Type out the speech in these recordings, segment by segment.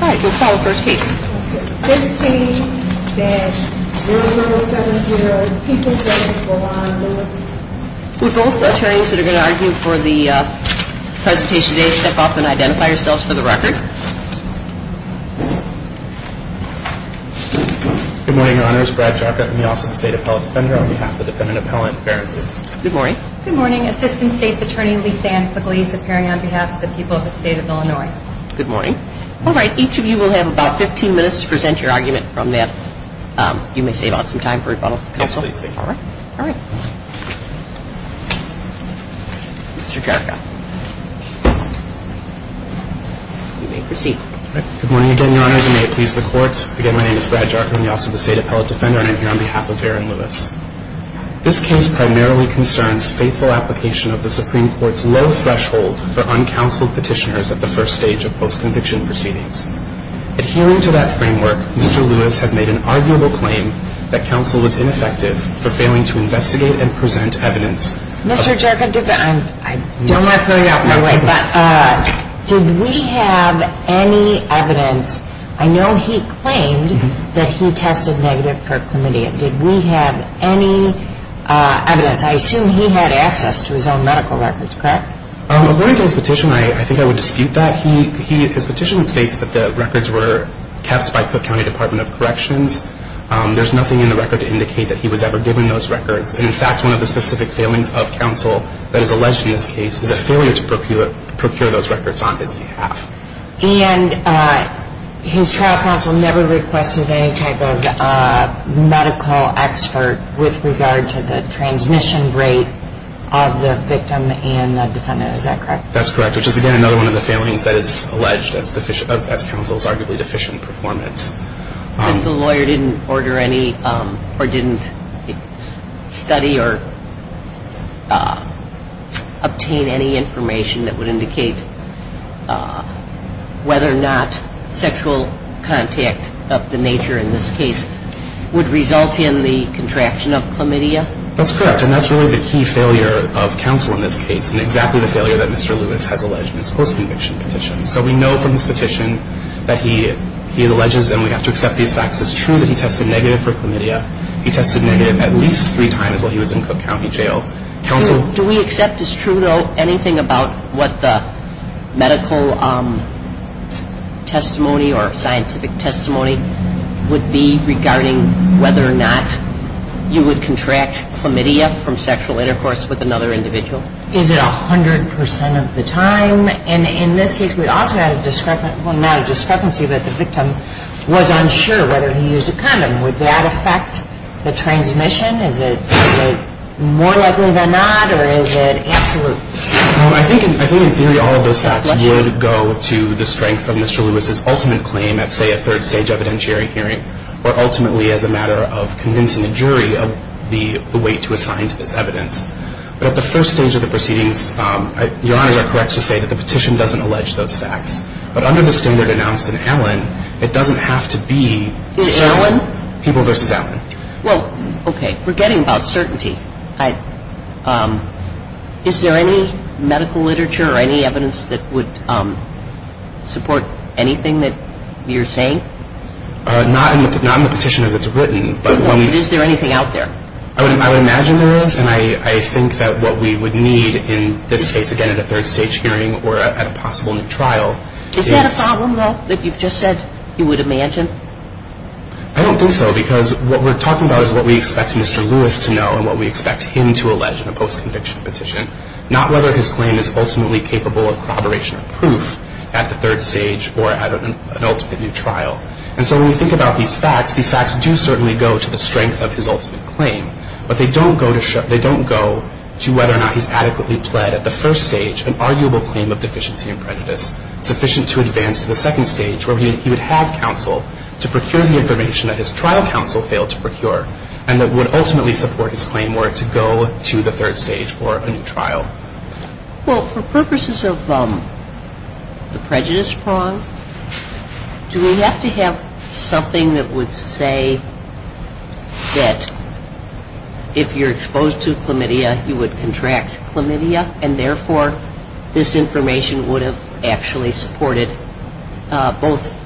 All right, we'll call the first case. 15-0070, people of the state of Illinois. Will both attorneys that are going to argue for the presentation today step up and identify yourselves for the record. Good morning, Your Honors. Brad Chalka from the Office of the State Appellate Defender on behalf of the defendant appellant, Farron Lewis. Good morning. Good morning. Assistant State's Attorney Lee Sand, for the police, appearing on behalf of the people of the state of Illinois. Good morning. All right, each of you will have about 15 minutes to present your argument from that. You may save up some time for rebuttal, counsel. Yes, please. All right. Mr. Chalka, you may proceed. Good morning again, Your Honors, and may it please the court. Again, my name is Brad Chalka from the Office of the State Appellate Defender, and I'm here on behalf of Farron Lewis. This case primarily concerns faithful application of the Supreme Court's low threshold for uncounseled petitioners at the first stage of post-conviction proceedings. Adhering to that framework, Mr. Lewis has made an arguable claim that counsel was ineffective for failing to investigate and present evidence. Mr. Chalka, I don't want to throw you out of my way, but did we have any evidence? I know he claimed that he tested negative for chlamydia. Did we have any evidence? I assume he had access to his own medical records, correct? According to his petition, I think I would dispute that. His petition states that the records were kept by Cook County Department of Corrections. There's nothing in the record to indicate that he was ever given those records. In fact, one of the specific failings of counsel that is alleged in this case is a failure to procure those records on his behalf. And his trial counsel never requested any type of medical expert with regard to the transmission rate of the victim and the defendant. Is that correct? That's correct, which is, again, another one of the failings that is alleged as counsel's arguably deficient performance. And the lawyer didn't order any or didn't study or obtain any information that would indicate whether or not sexual contact of the nature in this case would result in the contraction of chlamydia? That's correct, and that's really the key failure of counsel in this case, and exactly the failure that Mr. Lewis has alleged in his post-conviction petition. So we know from his petition that he alleges, and we have to accept these facts as true, that he tested negative for chlamydia. He tested negative at least three times while he was in Cook County Jail. Counsel? Do we accept as true, though, anything about what the medical testimony or scientific testimony would be regarding whether or not you would contract chlamydia from sexual intercourse with another individual? Is it 100% of the time? And in this case, we also had a discrepancy that the victim was unsure whether he used a condom. Would that affect the transmission? Is it more likely than not, or is it absolute? I think in theory all of those facts would go to the strength of Mr. Lewis's ultimate claim at, say, a third-stage evidentiary hearing, or ultimately as a matter of convincing a jury of the weight to assign to this evidence. But at the first stage of the proceedings, Your Honors are correct to say that the petition doesn't allege those facts. But under the standard announced in Allen, it doesn't have to be people versus Allen. Well, okay. Forgetting about certainty, is there any medical literature or any evidence that would support anything that you're saying? Not in the petition as it's written. Okay. But is there anything out there? I would imagine there is. And I think that what we would need in this case, again, at a third-stage hearing or at a possible new trial is — Is that a problem, though, that you've just said you would imagine? I don't think so, because what we're talking about is what we expect Mr. Lewis to know and what we expect him to allege in a post-conviction petition, not whether his claim is ultimately capable of corroboration of proof at the third stage or at an ultimate new trial. And so when we think about these facts, these facts do certainly go to the strength of his ultimate claim. But they don't go to whether or not he's adequately pled at the first stage an arguable claim of deficiency and prejudice, sufficient to advance to the second stage where he would have counsel to procure the information that his trial counsel failed to procure and that would ultimately support his claim were it to go to the third stage or a new trial. Well, for purposes of the prejudice prong, do we have to have something that would say that if you're exposed to chlamydia, you would contract chlamydia and, therefore, this information would have actually supported both,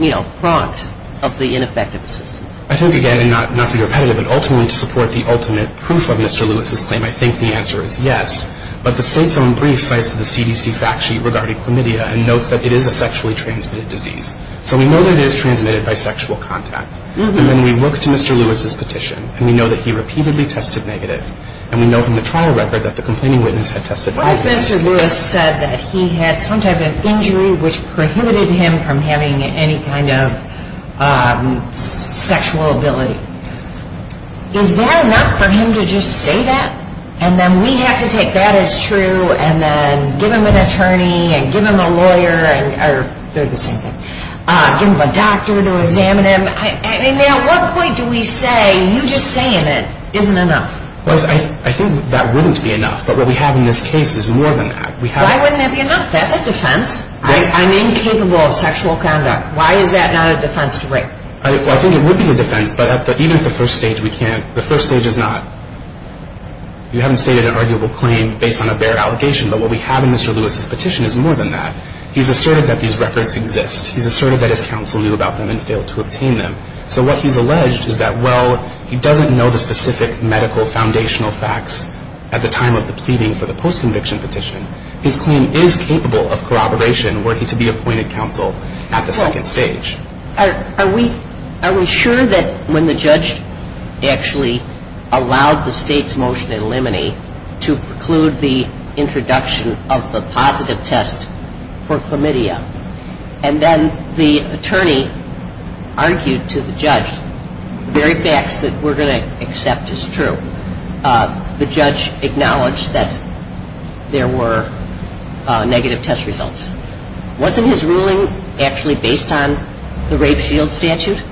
you know, prongs of the ineffective assistance? I think, again, and not to be repetitive, but ultimately to support the ultimate proof of Mr. Lewis's claim, I think the answer is yes. But the state's own brief cites the CDC fact sheet regarding chlamydia and notes that it is a sexually transmitted disease. So we know that it is transmitted by sexual contact. And then we look to Mr. Lewis's petition and we know that he repeatedly tested negative. And we know from the trial record that the complaining witness had tested negative. What if Mr. Lewis said that he had some type of injury which prohibited him from having any kind of sexual ability? Is that enough for him to just say that? And then we have to take that as true and then give him an attorney and give him a lawyer or they're the same thing, give him a doctor to examine him. I mean, at what point do we say you just saying it isn't enough? I think that wouldn't be enough. But what we have in this case is more than that. Why wouldn't that be enough? That's a defense. I'm incapable of sexual conduct. Why is that not a defense to break? I think it would be a defense. But even at the first stage, we can't. The first stage is not. You haven't stated an arguable claim based on a bare allegation. But what we have in Mr. Lewis's petition is more than that. He's asserted that these records exist. He's asserted that his counsel knew about them and failed to obtain them. So what he's alleged is that, well, he doesn't know the specific medical foundational facts at the time of the pleading for the post-conviction petition. His claim is capable of corroboration were he to be appointed counsel at the second stage. Are we sure that when the judge actually allowed the state's motion in limine to preclude the introduction of the positive test for chlamydia and then the attorney argued to the judge, the very facts that we're going to accept is true, the judge acknowledged that there were negative test results. Wasn't his ruling actually based on the rape shield statute?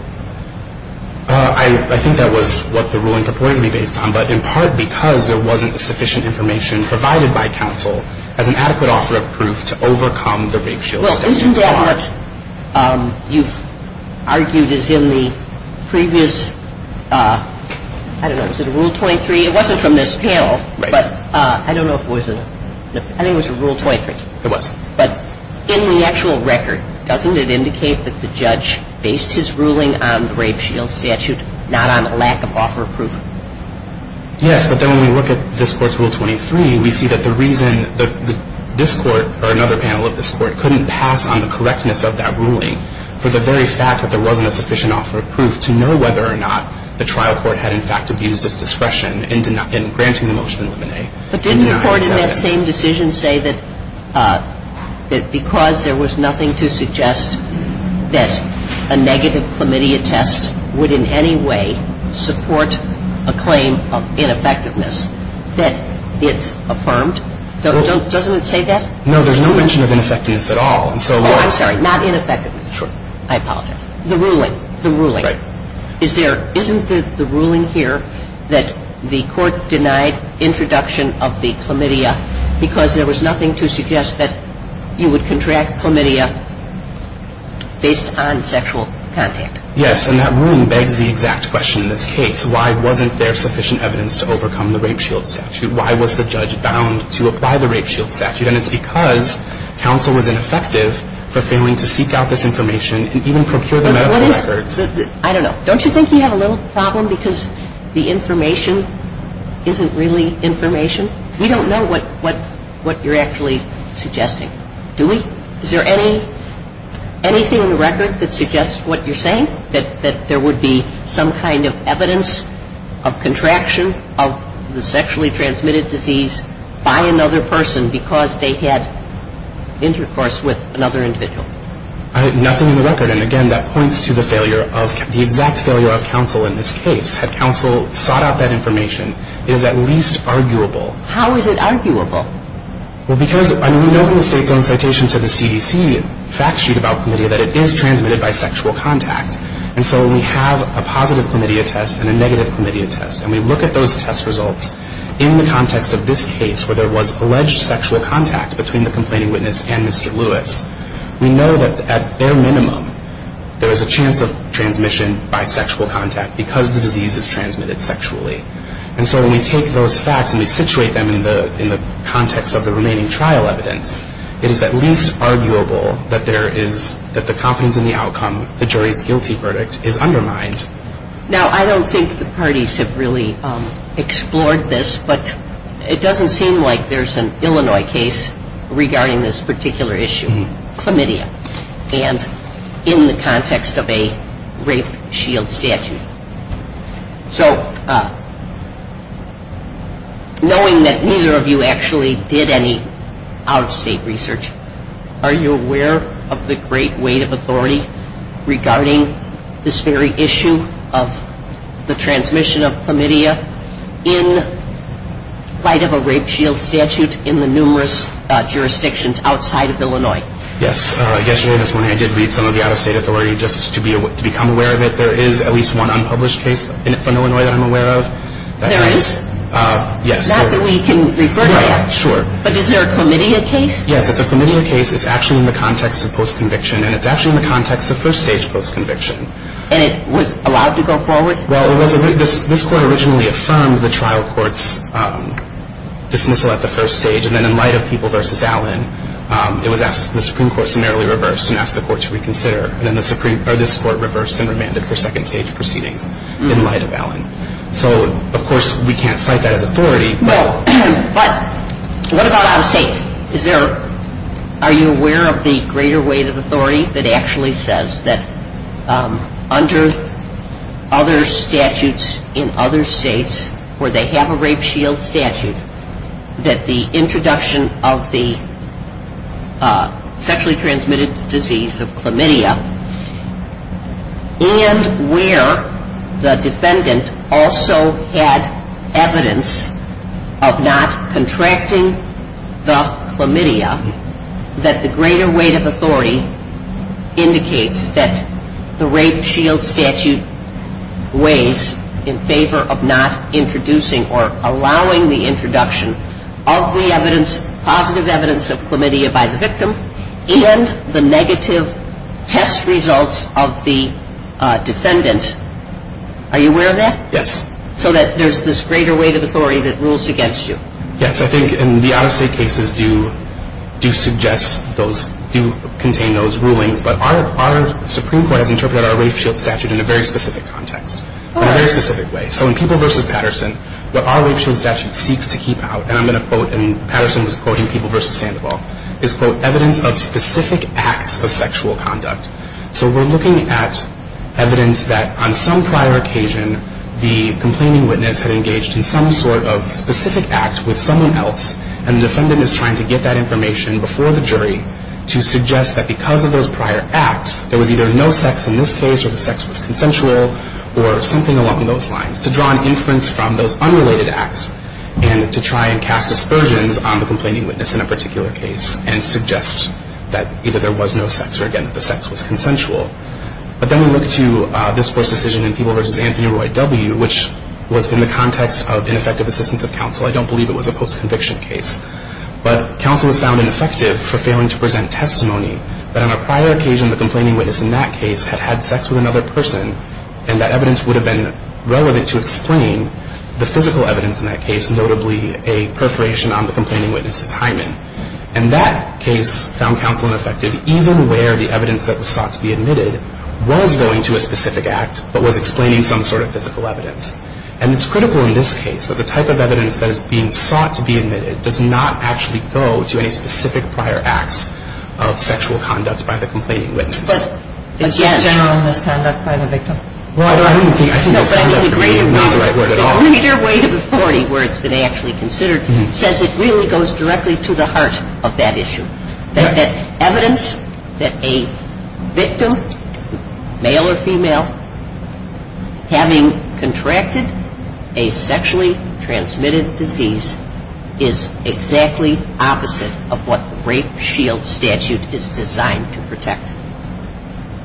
I think that was what the ruling purported to be based on, but in part because there wasn't sufficient information provided by counsel as an adequate offer of proof to overcome the rape shield statute. Well, isn't that what you've argued is in the previous, I don't know, was it Rule 23? It wasn't from this panel, but I don't know if it was. I think it was Rule 23. It was. But in the actual record, doesn't it indicate that the judge based his ruling on the rape shield statute, not on a lack of offer of proof? Yes. Yes, but then when we look at this Court's Rule 23, we see that the reason that this Court or another panel of this Court couldn't pass on the correctness of that ruling for the very fact that there wasn't a sufficient offer of proof to know whether or not the trial court had in fact abused its discretion in granting the motion in limine. But didn't the Court in that same decision say that because there was nothing to suggest that a negative chlamydia test would in any way support a claim of ineffectiveness that it's affirmed? Doesn't it say that? No. There's no mention of ineffectiveness at all. I'm sorry. Not ineffectiveness. Sure. I apologize. The ruling. The ruling. Right. Isn't the ruling here that the Court denied introduction of the chlamydia because there was nothing to suggest that you would contract chlamydia based on sexual contact? Yes. And that ruling begs the exact question in this case. Why wasn't there sufficient evidence to overcome the rape shield statute? Why was the judge bound to apply the rape shield statute? And it's because counsel was ineffective for failing to seek out this information and even procure the medical records. I don't know. Don't you think you have a little problem because the information isn't really information? We don't know what you're actually suggesting, do we? Is there anything in the record that suggests what you're saying, that there would be some kind of evidence of contraction of the sexually transmitted disease by another person because they had intercourse with another individual? Nothing in the record. And, again, that points to the failure of the exact failure of counsel in this case. Had counsel sought out that information, it is at least arguable. How is it arguable? Well, because we know from the state's own citation to the CDC fact sheet about chlamydia that it is transmitted by sexual contact. And so when we have a positive chlamydia test and a negative chlamydia test and we look at those test results in the context of this case where there was alleged sexual contact between the complaining witness and Mr. Lewis, we know that at their minimum there is a chance of transmission by sexual contact because the disease is transmitted sexually. And so when we take those facts and we situate them in the context of the remaining trial evidence, it is at least arguable that the confidence in the outcome, the jury's guilty verdict, is undermined. Now, I don't think the parties have really explored this, but it doesn't seem like there's an Illinois case regarding this particular issue, chlamydia, and in the context of a rape shield statute. So knowing that neither of you actually did any out-of-state research, are you aware of the great weight of authority regarding this very issue of the transmission of chlamydia in light of a rape shield statute in the numerous jurisdictions outside of Illinois? Yes. Yesterday and this morning I did read some of the out-of-state authority. Just to become aware of it, there is at least one unpublished case from Illinois that I'm aware of. There is? Yes. Not that we can refer to yet. Right. Sure. But is there a chlamydia case? Yes. It's a chlamydia case. It's actually in the context of post-conviction and it's actually in the context of first-stage post-conviction. And it was allowed to go forward? Well, this court originally affirmed the trial court's dismissal at the first stage and then in light of people versus Allen, it was asked, the Supreme Court summarily reversed and asked the court to reconsider. And then this court reversed and remanded for second-stage proceedings in light of Allen. So, of course, we can't cite that as authority. But what about out-of-state? Are you aware of the greater weight of authority that actually says that under other statutes in other states where they have a rape shield statute that the introduction of the sexually transmitted disease of chlamydia and where the defendant also had evidence of not contracting the chlamydia, that the greater weight of authority indicates that the rape shield statute weighs in favor of not introducing or allowing the introduction of the evidence, positive evidence of chlamydia by the victim and the negative test results of the defendant? Are you aware of that? Yes. So that there's this greater weight of authority that rules against you? Yes. I think in the out-of-state cases do suggest those, do contain those rulings. But our Supreme Court has interpreted our rape shield statute in a very specific context, in a very specific way. So in People v. Patterson, what our rape shield statute seeks to keep out, and I'm going to quote, and Patterson was quoting People v. Sandoval, is, quote, evidence of specific acts of sexual conduct. So we're looking at evidence that on some prior occasion, the complaining witness had engaged in some sort of specific act with someone else and the defendant is trying to get that information before the jury to suggest that because of those prior acts, there was either no sex in this case or the sex was consensual or something along those lines, to draw an inference from those unrelated acts and to try and cast aspersions on the complaining witness in a particular case and suggest that either there was no sex or, again, that the sex was consensual. But then we look to this court's decision in People v. Anthony Roy W., which was in the context of ineffective assistance of counsel. I don't believe it was a post-conviction case. But counsel was found ineffective for failing to present testimony that on a prior occasion, the complaining witness in that case had had sex with another person and that evidence would have been relevant to explain the physical evidence in that case, notably a perforation on the complaining witness's hymen. And that case found counsel ineffective even where the evidence that was sought to be admitted was going to a specific act but was explaining some sort of physical evidence. And it's critical in this case that the type of evidence that is being sought to be admitted does not actually go to any specific prior acts of sexual conduct by the complaining witness. But is that general misconduct by the victim? Well, I don't think misconduct could be the right word at all. The leader weight of authority where it's been actually considered says it really goes directly to the heart of that issue, that evidence that a victim, male or female, having contracted a sexually transmitted disease is exactly opposite of what the rape shield statute is designed to protect.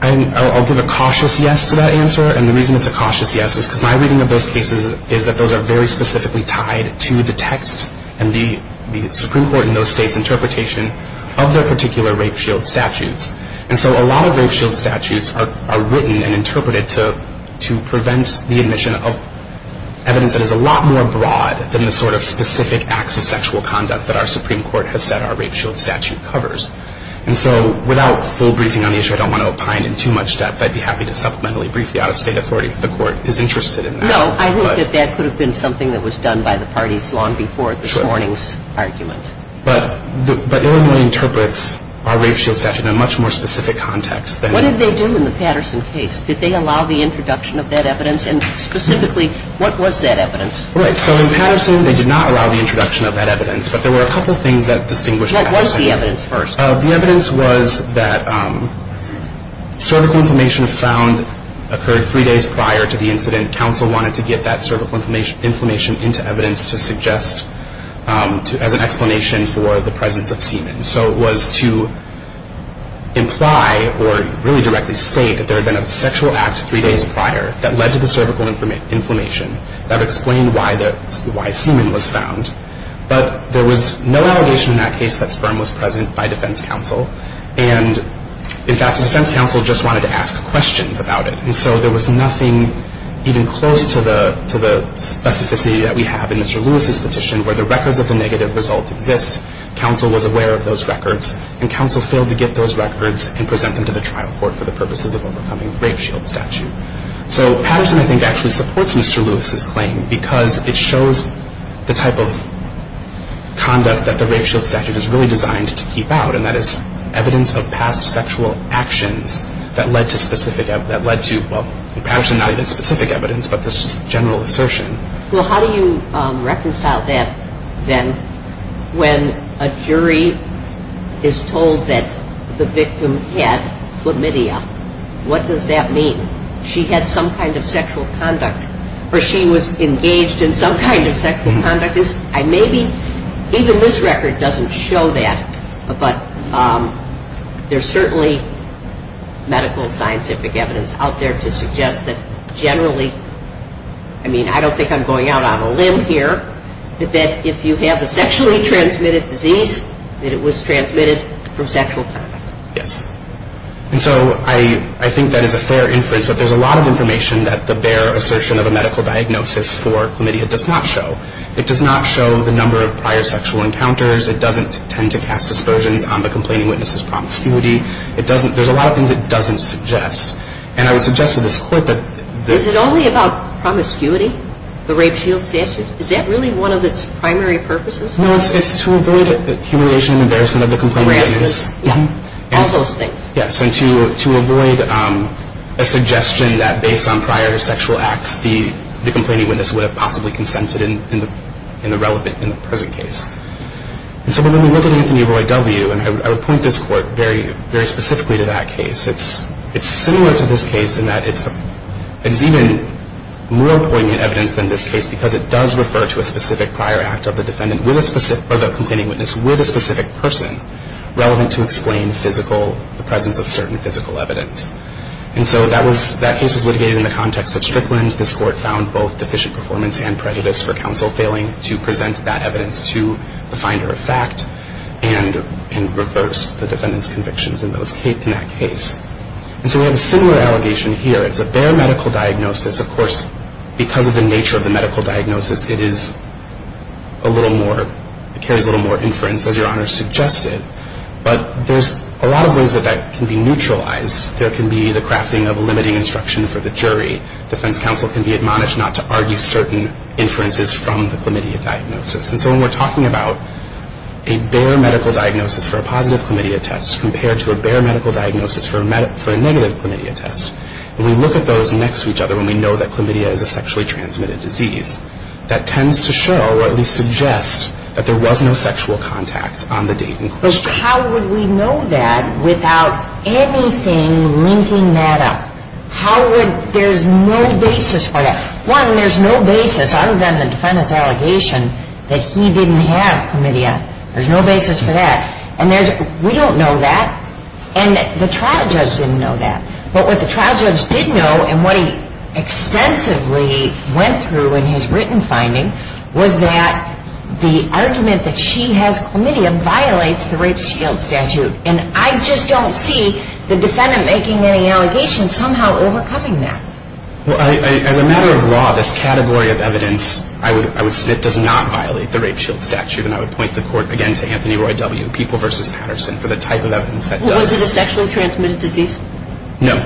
I'll give a cautious yes to that answer. And the reason it's a cautious yes is because my reading of those cases is that those are very specifically tied to the text and the Supreme Court in those states' interpretation of their particular rape shield statutes. And so a lot of rape shield statutes are written and interpreted to prevent the admission of evidence that is a lot more broad than the sort of specific acts of sexual conduct that our Supreme Court has said our rape shield statute covers. And so without full briefing on the issue, I don't want to opine in too much depth. I'd be happy to supplementally brief the out-of-state authority if the Court is interested in that. No, I think that that could have been something that was done by the parties long before this morning's argument. But Illinois interprets our rape shield statute in a much more specific context. What did they do in the Patterson case? Did they allow the introduction of that evidence? And specifically, what was that evidence? Right. So in Patterson, they did not allow the introduction of that evidence. But there were a couple things that distinguished Patterson. What was the evidence first? The evidence was that cervical inflammation found occurred three days prior to the incident. Counsel wanted to get that cervical inflammation into evidence to suggest as an explanation for the presence of semen. So it was to imply or really directly state that there had been a sexual act three days prior that led to the cervical inflammation that explained why semen was found. But there was no allegation in that case that sperm was present by defense counsel. And, in fact, the defense counsel just wanted to ask questions about it. And so there was nothing even close to the specificity that we have in Mr. Lewis's petition where the records of the negative result exist. Counsel was aware of those records, and counsel failed to get those records and present them to the trial court for the purposes of overcoming the rape shield statute. So Patterson, I think, actually supports Mr. Lewis's claim because it shows the type of conduct that the rape shield statute is really designed to keep out, and that is evidence of past sexual actions that led to specific evidence, that led to, well, Patterson, not even specific evidence, but just general assertion. Well, how do you reconcile that, then, when a jury is told that the victim had chlamydia? What does that mean? She had some kind of sexual conduct, or she was engaged in some kind of sexual conduct? Maybe even this record doesn't show that, but there's certainly medical scientific evidence out there to suggest that generally, I mean, I don't think I'm going out on a limb here, that if you have a sexually transmitted disease, that it was transmitted from sexual conduct. Yes. And so I think that is a fair inference, but there's a lot of information that the bare assertion of a medical diagnosis for chlamydia does not show. It does not show the number of prior sexual encounters. It doesn't tend to cast aspersions on the complaining witness's promiscuity. It doesn't – there's a lot of things it doesn't suggest. And I would suggest to this Court that this – Is it only about promiscuity, the rape shield statute? Is that really one of its primary purposes? No, it's to avoid humiliation and embarrassment of the complaining witness. All those things. Yes. And to avoid a suggestion that based on prior sexual acts, the complaining witness would have possibly consented in the relevant – in the present case. And so when we look at Anthony Roy W., and I would point this Court very specifically to that case, it's similar to this case in that it's even more poignant evidence than this case because it does refer to a specific prior act of the defendant with a specific – the presence of certain physical evidence. And so that was – that case was litigated in the context of Strickland. This Court found both deficient performance and prejudice for counsel failing to present that evidence to the finder of fact and reversed the defendant's convictions in that case. And so we have a similar allegation here. It's a bare medical diagnosis. Of course, because of the nature of the medical diagnosis, it is a little more – but there's a lot of ways that that can be neutralized. There can be the crafting of limiting instruction for the jury. Defense counsel can be admonished not to argue certain inferences from the chlamydia diagnosis. And so when we're talking about a bare medical diagnosis for a positive chlamydia test compared to a bare medical diagnosis for a negative chlamydia test, when we look at those next to each other, when we know that chlamydia is a sexually transmitted disease, that tends to show or at least suggest that there was no sexual contact on the date in question. How would we know that without anything linking that up? How would – there's no basis for that. One, there's no basis other than the defendant's allegation that he didn't have chlamydia. There's no basis for that. And there's – we don't know that. And the trial judge didn't know that. But what the trial judge did know and what he extensively went through in his written finding was that the argument that she has chlamydia violates the rape shield statute. And I just don't see the defendant making any allegations somehow overcoming that. Well, as a matter of law, this category of evidence, I would – it does not violate the rape shield statute. And I would point the Court again to Anthony Roy W., People v. Patterson, for the type of evidence that does. Was it a sexually transmitted disease? No.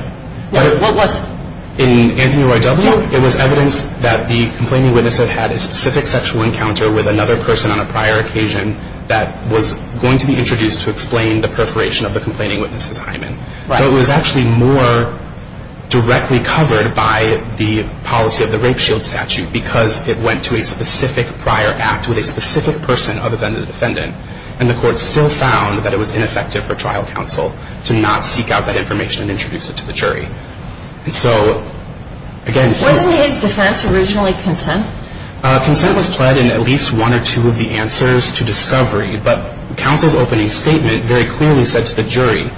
What was it? In Anthony Roy W., it was evidence that the complaining witness had had a specific sexual encounter with another person on a prior occasion that was going to be introduced to explain the perforation of the complaining witness' hymen. Right. So it was actually more directly covered by the policy of the rape shield statute because it went to a specific prior act with a specific person other than the defendant. And the Court still found that it was ineffective for trial counsel to not seek out that information and introduce it to the jury. And so, again – Wasn't his defense originally consent? Consent was pled in at least one or two of the answers to discovery. But counsel's opening statement very clearly said to the jury,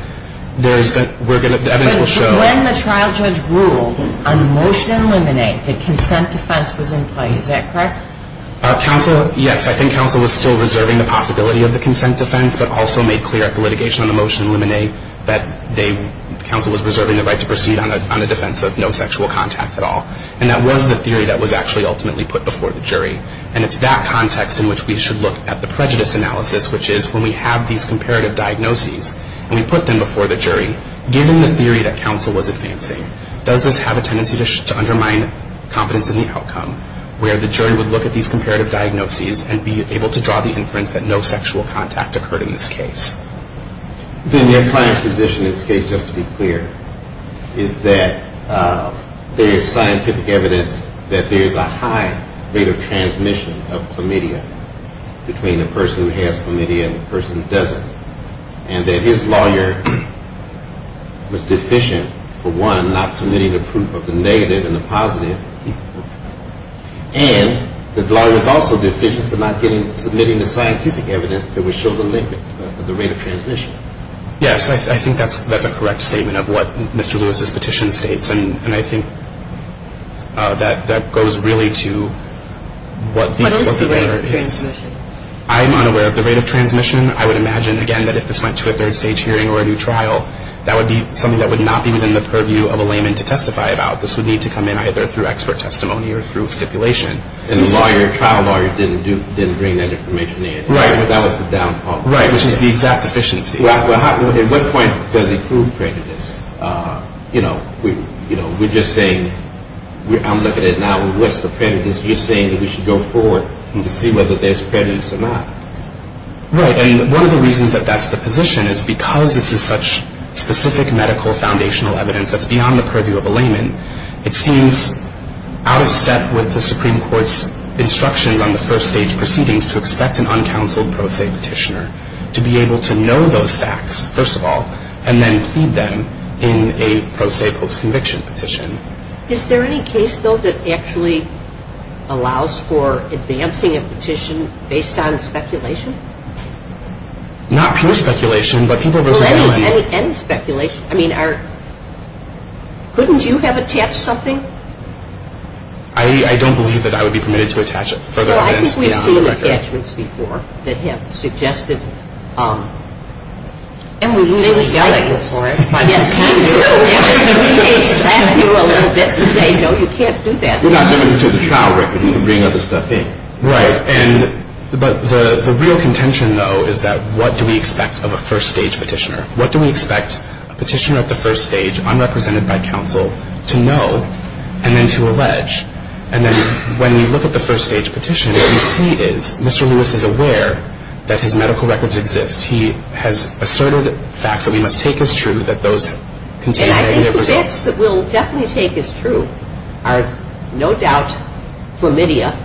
there is – the evidence will show – But when the trial judge ruled on the motion in limine that consent defense was in play, is that correct? Counsel – yes, I think counsel was still reserving the possibility of the consent defense but also made clear at the litigation on the motion in limine that counsel was reserving the right to proceed on the defense of no sexual contact at all. And that was the theory that was actually ultimately put before the jury. And it's that context in which we should look at the prejudice analysis, which is when we have these comparative diagnoses and we put them before the jury, given the theory that counsel was advancing, does this have a tendency to undermine confidence in the outcome where the jury would look at these comparative diagnoses and be able to draw the inference that no sexual contact occurred in this case? Then your client's position in this case, just to be clear, is that there is scientific evidence that there is a high rate of transmission of chlamydia between the person who has chlamydia and the person who doesn't. And that his lawyer was deficient, for one, not submitting the proof of the negative and the positive. And the lawyer was also deficient for not submitting the scientific evidence that would show the limit of the rate of transmission. Yes, I think that's a correct statement of what Mr. Lewis's petition states. And I think that goes really to what the matter is. What is the rate of transmission? I'm unaware of the rate of transmission. I would imagine, again, that if this went to a third-stage hearing or a new trial, that would be something that would not be within the purview of a layman to testify about. This would need to come in either through expert testimony or through stipulation. And the trial lawyer didn't bring that information in. Right, but that was the down part. Right, which is the exact deficiency. At what point does it prove prejudice? You know, we're just saying, I'm looking at it now, what's the prejudice? You're saying that we should go forward to see whether there's prejudice or not. Right, and one of the reasons that that's the position is because this is such specific medical foundational evidence that's beyond the purview of a layman, it seems out of step with the Supreme Court's instructions on the first-stage proceedings to expect an uncounseled pro se petitioner to be able to know those facts, first of all, and then plead them in a pro se post-conviction petition. Is there any case, though, that actually allows for advancing a petition based on speculation? Not pure speculation, but people versus anyone. Well, any speculation. I mean, couldn't you have attached something? I don't believe that I would be permitted to attach further evidence beyond the record. Well, I think we've seen attachments before that have suggested. And we usually yell at you for it. Yes, we do. We may slap you a little bit and say, no, you can't do that. We're not doing it to the trial record. You can bring other stuff in. Right, but the real contention, though, is that what do we expect of a first-stage petitioner? What do we expect a petitioner at the first stage, unrepresented by counsel, to know and then to allege? And then when we look at the first-stage petition, what we see is Mr. Lewis is aware that his medical records exist. He has asserted facts that we must take as true, that those contained in either version. And I think facts that we'll definitely take as true are, no doubt, chlamydia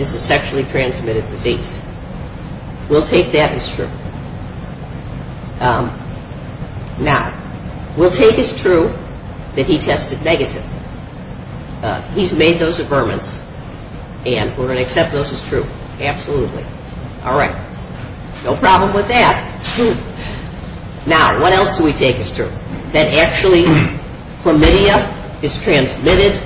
is a sexually transmitted disease. We'll take that as true. Now, we'll take as true that he tested negative. He's made those affirmance, and we're going to accept those as true. Absolutely. All right. No problem with that. Now, what else do we take as true? That actually chlamydia is transmitted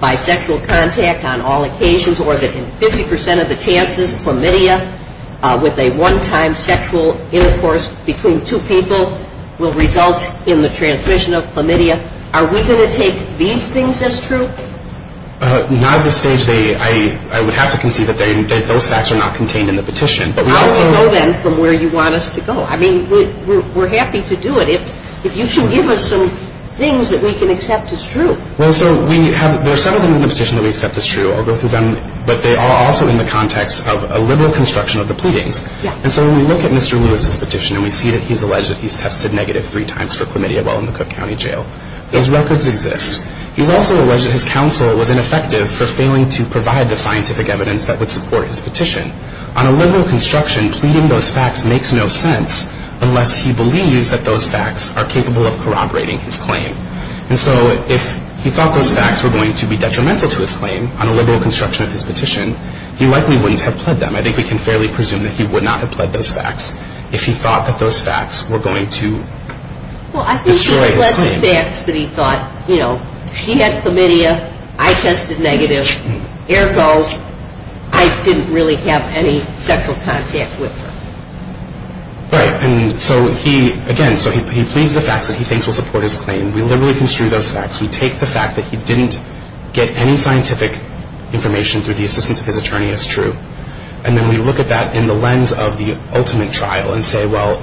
by sexual contact on all occasions or that in 50 percent of the chances, chlamydia with a one-time sexual intercourse between two people will result in the transmission of chlamydia. Are we going to take these things as true? Not at this stage. I would have to concede that those facts are not contained in the petition. But we also know, then, from where you want us to go. I mean, we're happy to do it. If you can give us some things that we can accept as true. Well, so we have – there are several things in the petition that we accept as true. I'll go through them. But they are also in the context of a liberal construction of the pleadings. And so when we look at Mr. Lewis's petition, and we see that he's alleged that he's tested negative three times for chlamydia while in the Cook County Jail, those records exist. He's also alleged that his counsel was ineffective for failing to provide the scientific evidence that would support his petition. On a liberal construction, pleading those facts makes no sense unless he believes that those facts are capable of corroborating his claim. And so if he thought those facts were going to be detrimental to his claim on a liberal construction of his petition, he likely wouldn't have pled them. I think we can fairly presume that he would not have pled those facts if he thought that those facts were going to destroy his claim. Well, I think he pled the facts that he thought, you know, she had chlamydia, I tested negative, ergo I didn't really have any sexual contact with her. Right. And so he, again, so he pleads the facts that he thinks will support his claim. We liberally construe those facts. We take the fact that he didn't get any scientific information through the assistance of his attorney as true. And then we look at that in the lens of the ultimate trial and say, well,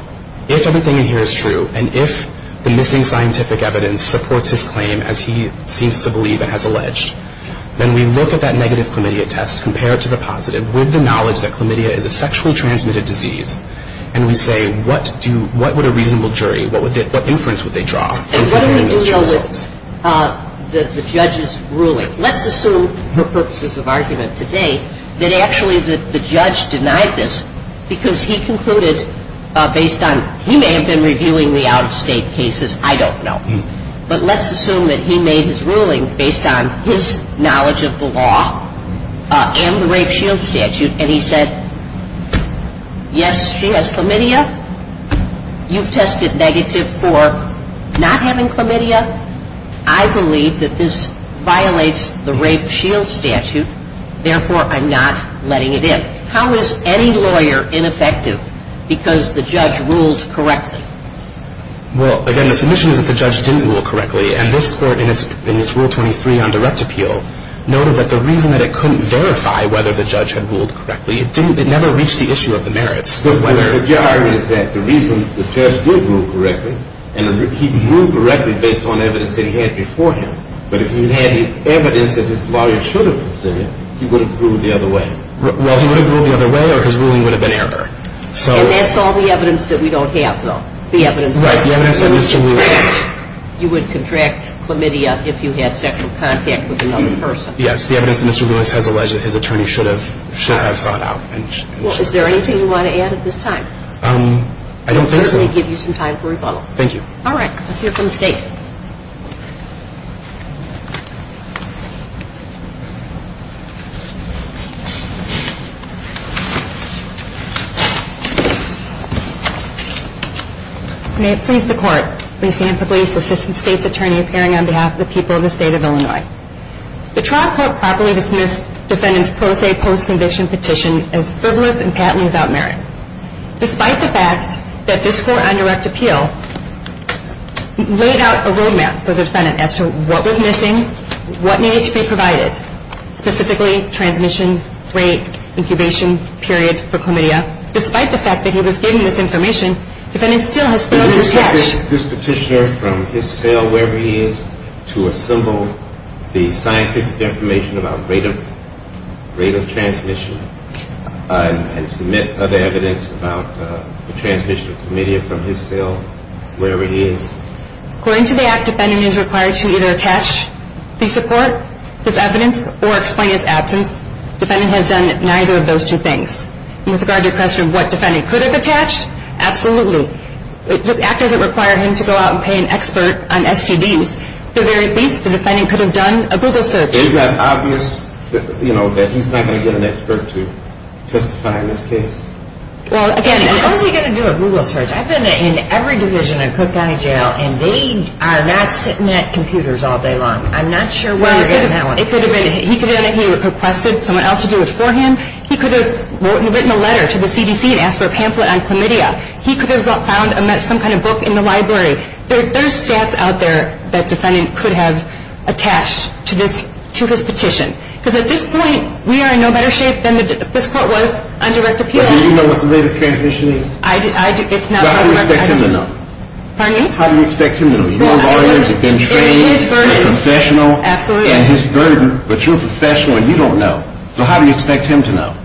if everything in here is true, and if the missing scientific evidence supports his claim as he seems to believe it has alleged, then we look at that negative chlamydia test, compare it to the positive, with the knowledge that chlamydia is a sexually transmitted disease, and we say what would a reasonable jury, what inference would they draw? And what do we do with the judge's ruling? Let's assume for purposes of argument today that actually the judge denied this because he concluded based on, he may have been reviewing the out-of-state cases, I don't know. But let's assume that he made his ruling based on his knowledge of the law and the rape shield statute, and he said, yes, she has chlamydia. You've tested negative for not having chlamydia. I believe that this violates the rape shield statute. Therefore, I'm not letting it in. How is any lawyer ineffective because the judge rules correctly? Well, again, the submission is that the judge didn't rule correctly, and this court in its Rule 23 on direct appeal noted that the reason that it couldn't verify whether the judge had ruled correctly, it never reached the issue of the merits. Your argument is that the reason the judge did rule correctly, and he ruled correctly based on evidence that he had before him, but if he had evidence that his lawyer should have considered, he would have ruled the other way. Well, he would have ruled the other way or his ruling would have been error. And that's all the evidence that we don't have, though, the evidence that Mr. Lewis had. You would contract chlamydia if you had sexual contact with another person. Yes, the evidence that Mr. Lewis has alleged that his attorney should have sought out. Well, is there anything you want to add at this time? I don't think so. We'll certainly give you some time for rebuttal. Thank you. All right. Let's hear from the State. May it please the Court, Ms. Hanford-Leese, Assistant State's Attorney, appearing on behalf of the people of the State of Illinois. The trial court properly dismissed defendant's pro se post-conviction petition as frivolous and patently without merit. Despite the fact that this court on direct appeal laid out a road map for the defendant as to what was missing, what needed to be provided, specifically transmission, rate, incubation period for chlamydia, despite the fact that he was given this information, defendant still has failed to attach. Did he take this petitioner from his cell, wherever he is, to assemble the scientific information about rate of transmission and submit other evidence about the transmission of chlamydia from his cell, wherever he is? According to the Act, defendant is required to either attach the support, his evidence, or explain his absence. Defendant has done neither of those two things. With regard to the question of what defendant could have attached, absolutely. The Act doesn't require him to go out and pay an expert on STDs. At the very least, the defendant could have done a Google search. Isn't that obvious that he's not going to get an expert to testify in this case? Well, again, how is he going to do a Google search? I've been in every division of Cook County Jail, and they are not sitting at computers all day long. I'm not sure where you're getting that one. He could have requested someone else to do it for him. He could have written a letter to the CDC and asked for a pamphlet on chlamydia. He could have found some kind of book in the library. There's stats out there that defendant could have attached to his petition. Because at this point, we are in no better shape than this court was on direct appeal. But do you know what the rate of transmission is? I do. How do you expect him to know? Pardon me? How do you expect him to know? You know lawyers have been trained. It's his burden. And professional. Absolutely. And his burden. But you're professional, and you don't know. So how do you expect him to know?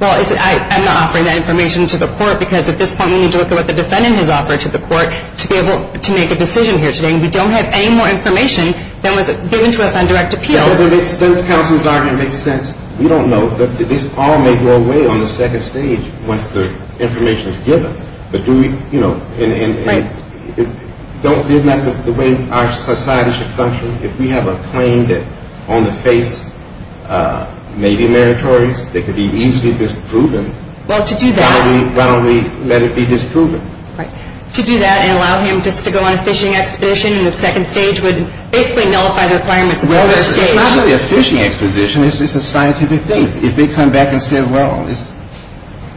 Well, I'm not offering that information to the court. Because at this point, we need to look at what the defendant has offered to the court to be able to make a decision here today. And we don't have any more information than was given to us on direct appeal. Those counsels aren't going to make sense. We don't know. This all may go away on the second stage once the information is given. But do we, you know. Right. Isn't that the way our society should function? If we have a claim that on the face may be meritorious, that could be easily disproven. Well, to do that. Why don't we let it be disproven? Right. To do that and allow him just to go on a fishing expedition in the second stage would basically nullify the requirements of the first stage. Well, it's not really a fishing expedition. It's a scientific thing. If they come back and say, well, it's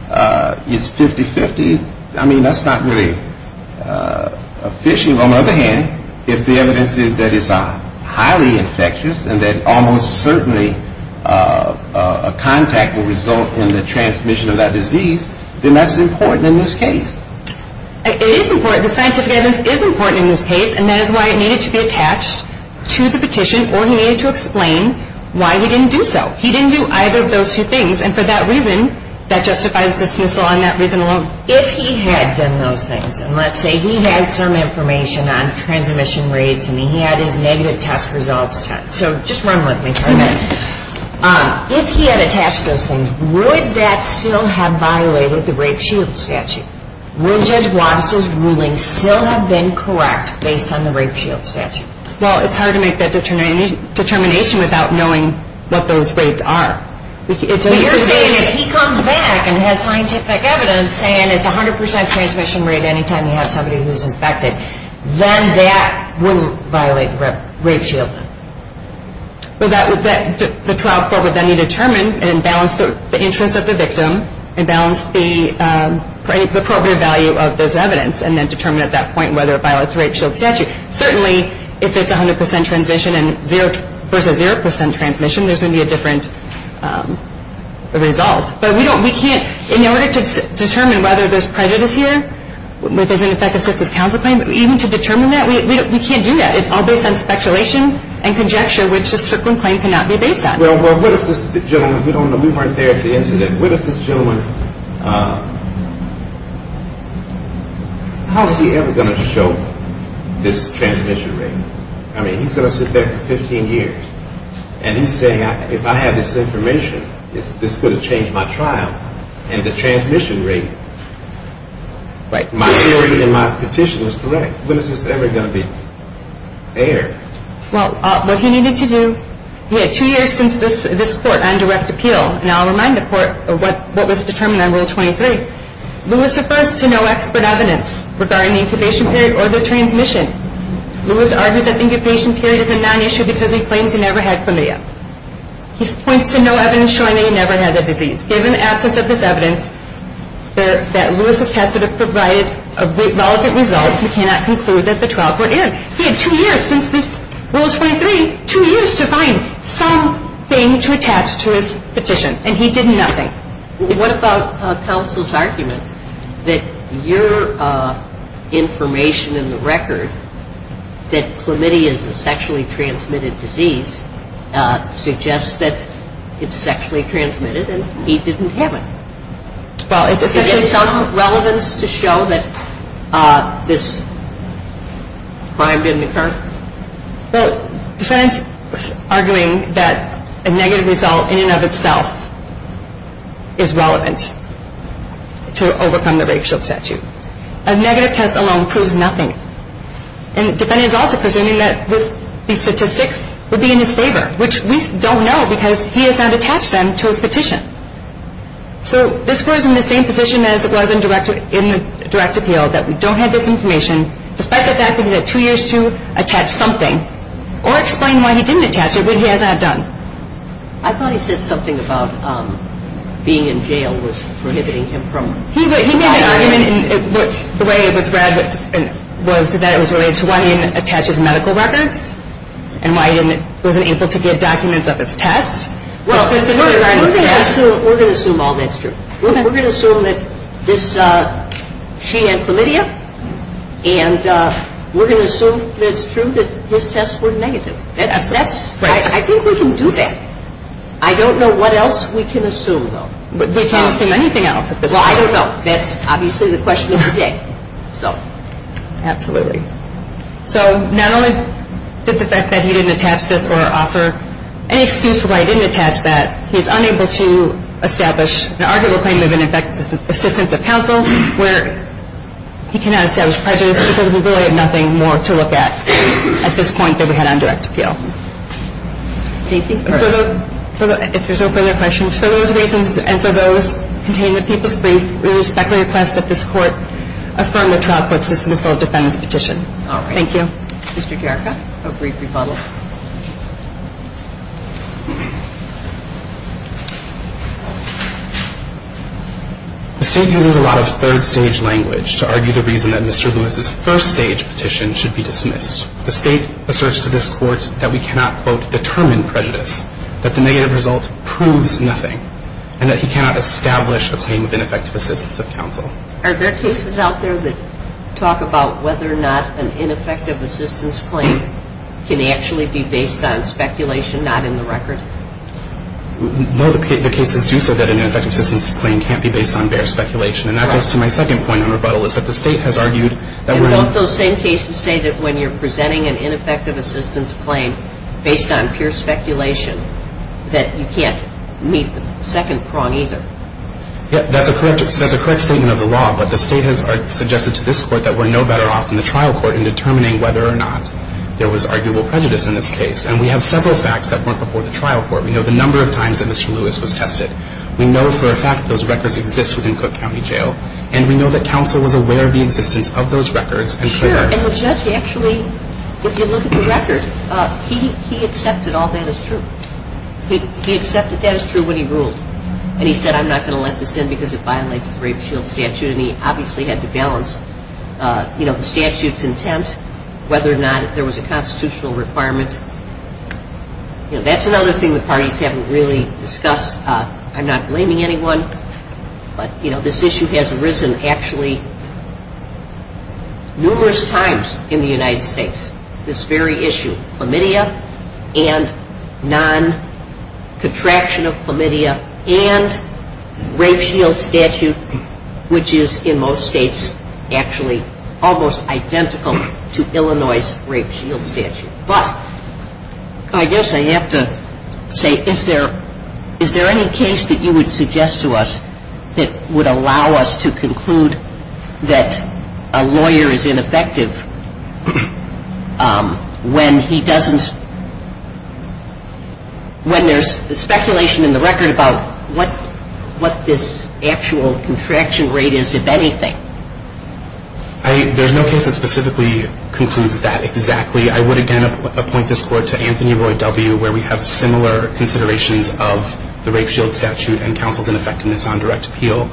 50-50, I mean, that's not really a fishing. Well, on the other hand, if the evidence is that it's highly infectious and that almost certainly a contact will result in the transmission of that disease, then that's important in this case. It is important. The scientific evidence is important in this case. And that is why it needed to be attached to the petition or he needed to explain why we didn't do so. He didn't do either of those two things. And for that reason, that justifies dismissal on that reason alone. If he had done those things, and let's say he had some information on transmission rates and he had his negative test results checked, so just run with me for a minute. If he had attached those things, would that still have violated the rape shield statute? Would Judge Wattis' ruling still have been correct based on the rape shield statute? Well, it's hard to make that determination without knowing what those rates are. You're saying if he comes back and has scientific evidence saying it's 100% transmission rate any time you have somebody who's infected, then that wouldn't violate the rape shield? The trial court would then determine and balance the interest of the victim and balance the appropriate value of this evidence and then determine at that point whether it violates the rape shield statute. Certainly, if it's 100% transmission versus 0% transmission, there's going to be a different result. But we can't, in order to determine whether there's prejudice here, whether there's an effective census council claim, even to determine that, we can't do that. It's all based on speculation and conjecture, which a certain claim cannot be based on. Well, what if this gentleman, we weren't there at the incident, what if this gentleman, how is he ever going to show this transmission rate? I mean, he's going to sit there for 15 years and he's saying, if I had this information, this could have changed my trial and the transmission rate. My theory and my petition is correct. When is this ever going to be aired? Well, what he needed to do, he had two years since this court on direct appeal. And I'll remind the court of what was determined on Rule 23. Lewis refers to no expert evidence regarding the incubation period or the transmission. Lewis argues that the incubation period is a non-issue because he claims he never had chlamydia. He points to no evidence showing that he never had the disease. Given the absence of this evidence, that Lewis's test would have provided a relevant result, we cannot conclude that the trial court aired. He had two years since this Rule 23, two years to find something to attach to his petition. And he did nothing. What about counsel's argument that your information in the record, that chlamydia is a sexually transmitted disease, suggests that it's sexually transmitted and he didn't have it? Well, it's essentially some relevance to show that this crime didn't occur. The defendant's arguing that a negative result in and of itself is relevant to overcome the rape-assault statute. A negative test alone proves nothing. And the defendant is also presuming that these statistics would be in his favor, which we don't know because he has not attached them to his petition. So this court is in the same position as it was in direct appeal that we don't have this information, despite the fact that he had two years to attach something, or explain why he didn't attach it when he hasn't had done. I thought he said something about being in jail was prohibiting him from filing it. He made that argument in the way it was read, that it was related to why he didn't attach his medical records and why he wasn't able to get documents of his test. Well, we're going to assume all that's true. We're going to assume that she had chlamydia, and we're going to assume that it's true that his tests were negative. I think we can do that. I don't know what else we can assume, though. We can't assume anything else at this point. Well, I don't know. That's obviously the question of the day. Absolutely. So not only did the fact that he didn't attach this or offer any excuse for why he didn't attach that, he's unable to establish an arguable claim of ineffective assistance of counsel where he cannot establish prejudice because we really have nothing more to look at at this point than we had on direct appeal. Thank you. If there's no further questions, for those reasons and for those contained in the People's Brief, we respectfully request that this Court affirm the trial court's dismissal of defendant's petition. All right. Thank you. Mr. Jericho, a brief rebuttal. The State uses a lot of third-stage language to argue the reason that Mr. Lewis's first-stage petition should be dismissed. The State asserts to this Court that we cannot, quote, determine prejudice, that the negative result proves nothing, and that he cannot establish a claim of ineffective assistance of counsel. Are there cases out there that talk about whether or not an ineffective assistance claim can actually be based on speculation, not in the record? No, the cases do say that an ineffective assistance claim can't be based on bare speculation. And that goes to my second point on rebuttal, is that the State has argued that when... And don't those same cases say that when you're presenting an ineffective assistance claim based on pure speculation, that you can't meet the second prong either? That's a correct statement of the law, but the State has suggested to this Court that we're no better off than the trial court in determining whether or not there was arguable prejudice in this case. And we have several facts that weren't before the trial court. We know the number of times that Mr. Lewis was tested. We know for a fact that those records exist within Cook County Jail. And we know that counsel was aware of the existence of those records and... Sure. And the judge actually, if you look at the record, he accepted all that as true. He accepted that as true when he ruled. And he said, I'm not going to let this in because it violates the Rape Shield Statute. And he obviously had to balance the statute's intent, whether or not there was a constitutional requirement. That's another thing the parties haven't really discussed. I'm not blaming anyone, but this issue has arisen actually numerous times in the United States. This very issue, chlamydia and non-contraction of chlamydia and Rape Shield Statute, which is in most states actually almost identical to Illinois' Rape Shield Statute. But I guess I have to say, is there any case that you would suggest to us that would allow us to conclude that a lawyer is ineffective when he doesn't... when there's speculation in the record about what this actual contraction rate is, if anything? There's no case that specifically concludes that exactly. I would, again, appoint this Court to Anthony Roy W., where we have similar considerations of the Rape Shield Statute and counsel's ineffectiveness on direct appeal.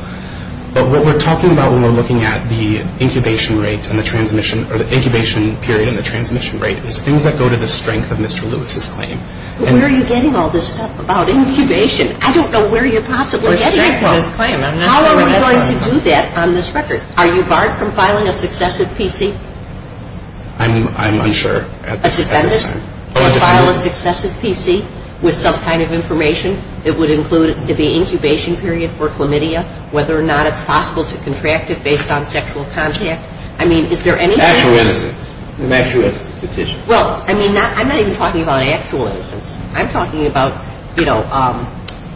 But what we're talking about when we're looking at the incubation rate and the transmission or the incubation period and the transmission rate is things that go to the strength of Mr. Lewis' claim. Where are you getting all this stuff about incubation? I don't know where you're possibly getting it from. The strength of his claim. How are we going to do that on this record? Are you barred from filing a successive PC? I'm unsure at this time. A defendant can file a successive PC with some kind of information. It would include the incubation period for chlamydia, whether or not it's possible to contract it based on sexual contact. I mean, is there anything? Actual innocence. An actual innocence petition. Well, I mean, I'm not even talking about actual innocence. I'm talking about, you know,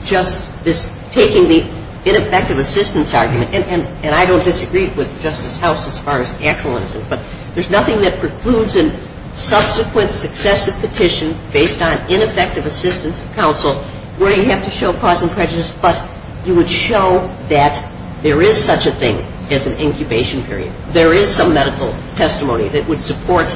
just this taking the ineffective assistance argument. And I don't disagree with Justice House as far as actual innocence. But there's nothing that precludes a subsequent successive petition based on ineffective assistance of counsel where you have to show cause and prejudice. But you would show that there is such a thing as an incubation period. There is some medical testimony that would support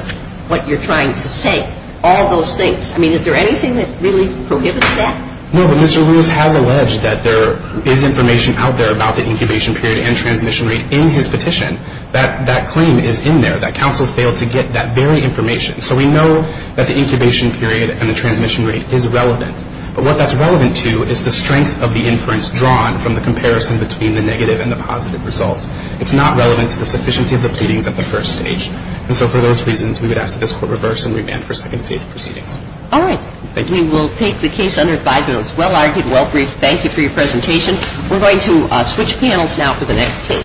what you're trying to say. All those things. I mean, is there anything that really prohibits that? No, but Mr. Lewis has alleged that there is information out there about the incubation period and transmission rate in his petition. That claim is in there. That counsel failed to get that very information. So we know that the incubation period and the transmission rate is relevant. But what that's relevant to is the strength of the inference drawn from the comparison between the negative and the positive result. It's not relevant to the sufficiency of the pleadings at the first stage. And so for those reasons, we would ask that this court reverse and remand for second stage proceedings. All right. We will take the case under advisement. It was well-argued, well-briefed. Thank you for your presentation. We're going to switch panels now for the next case.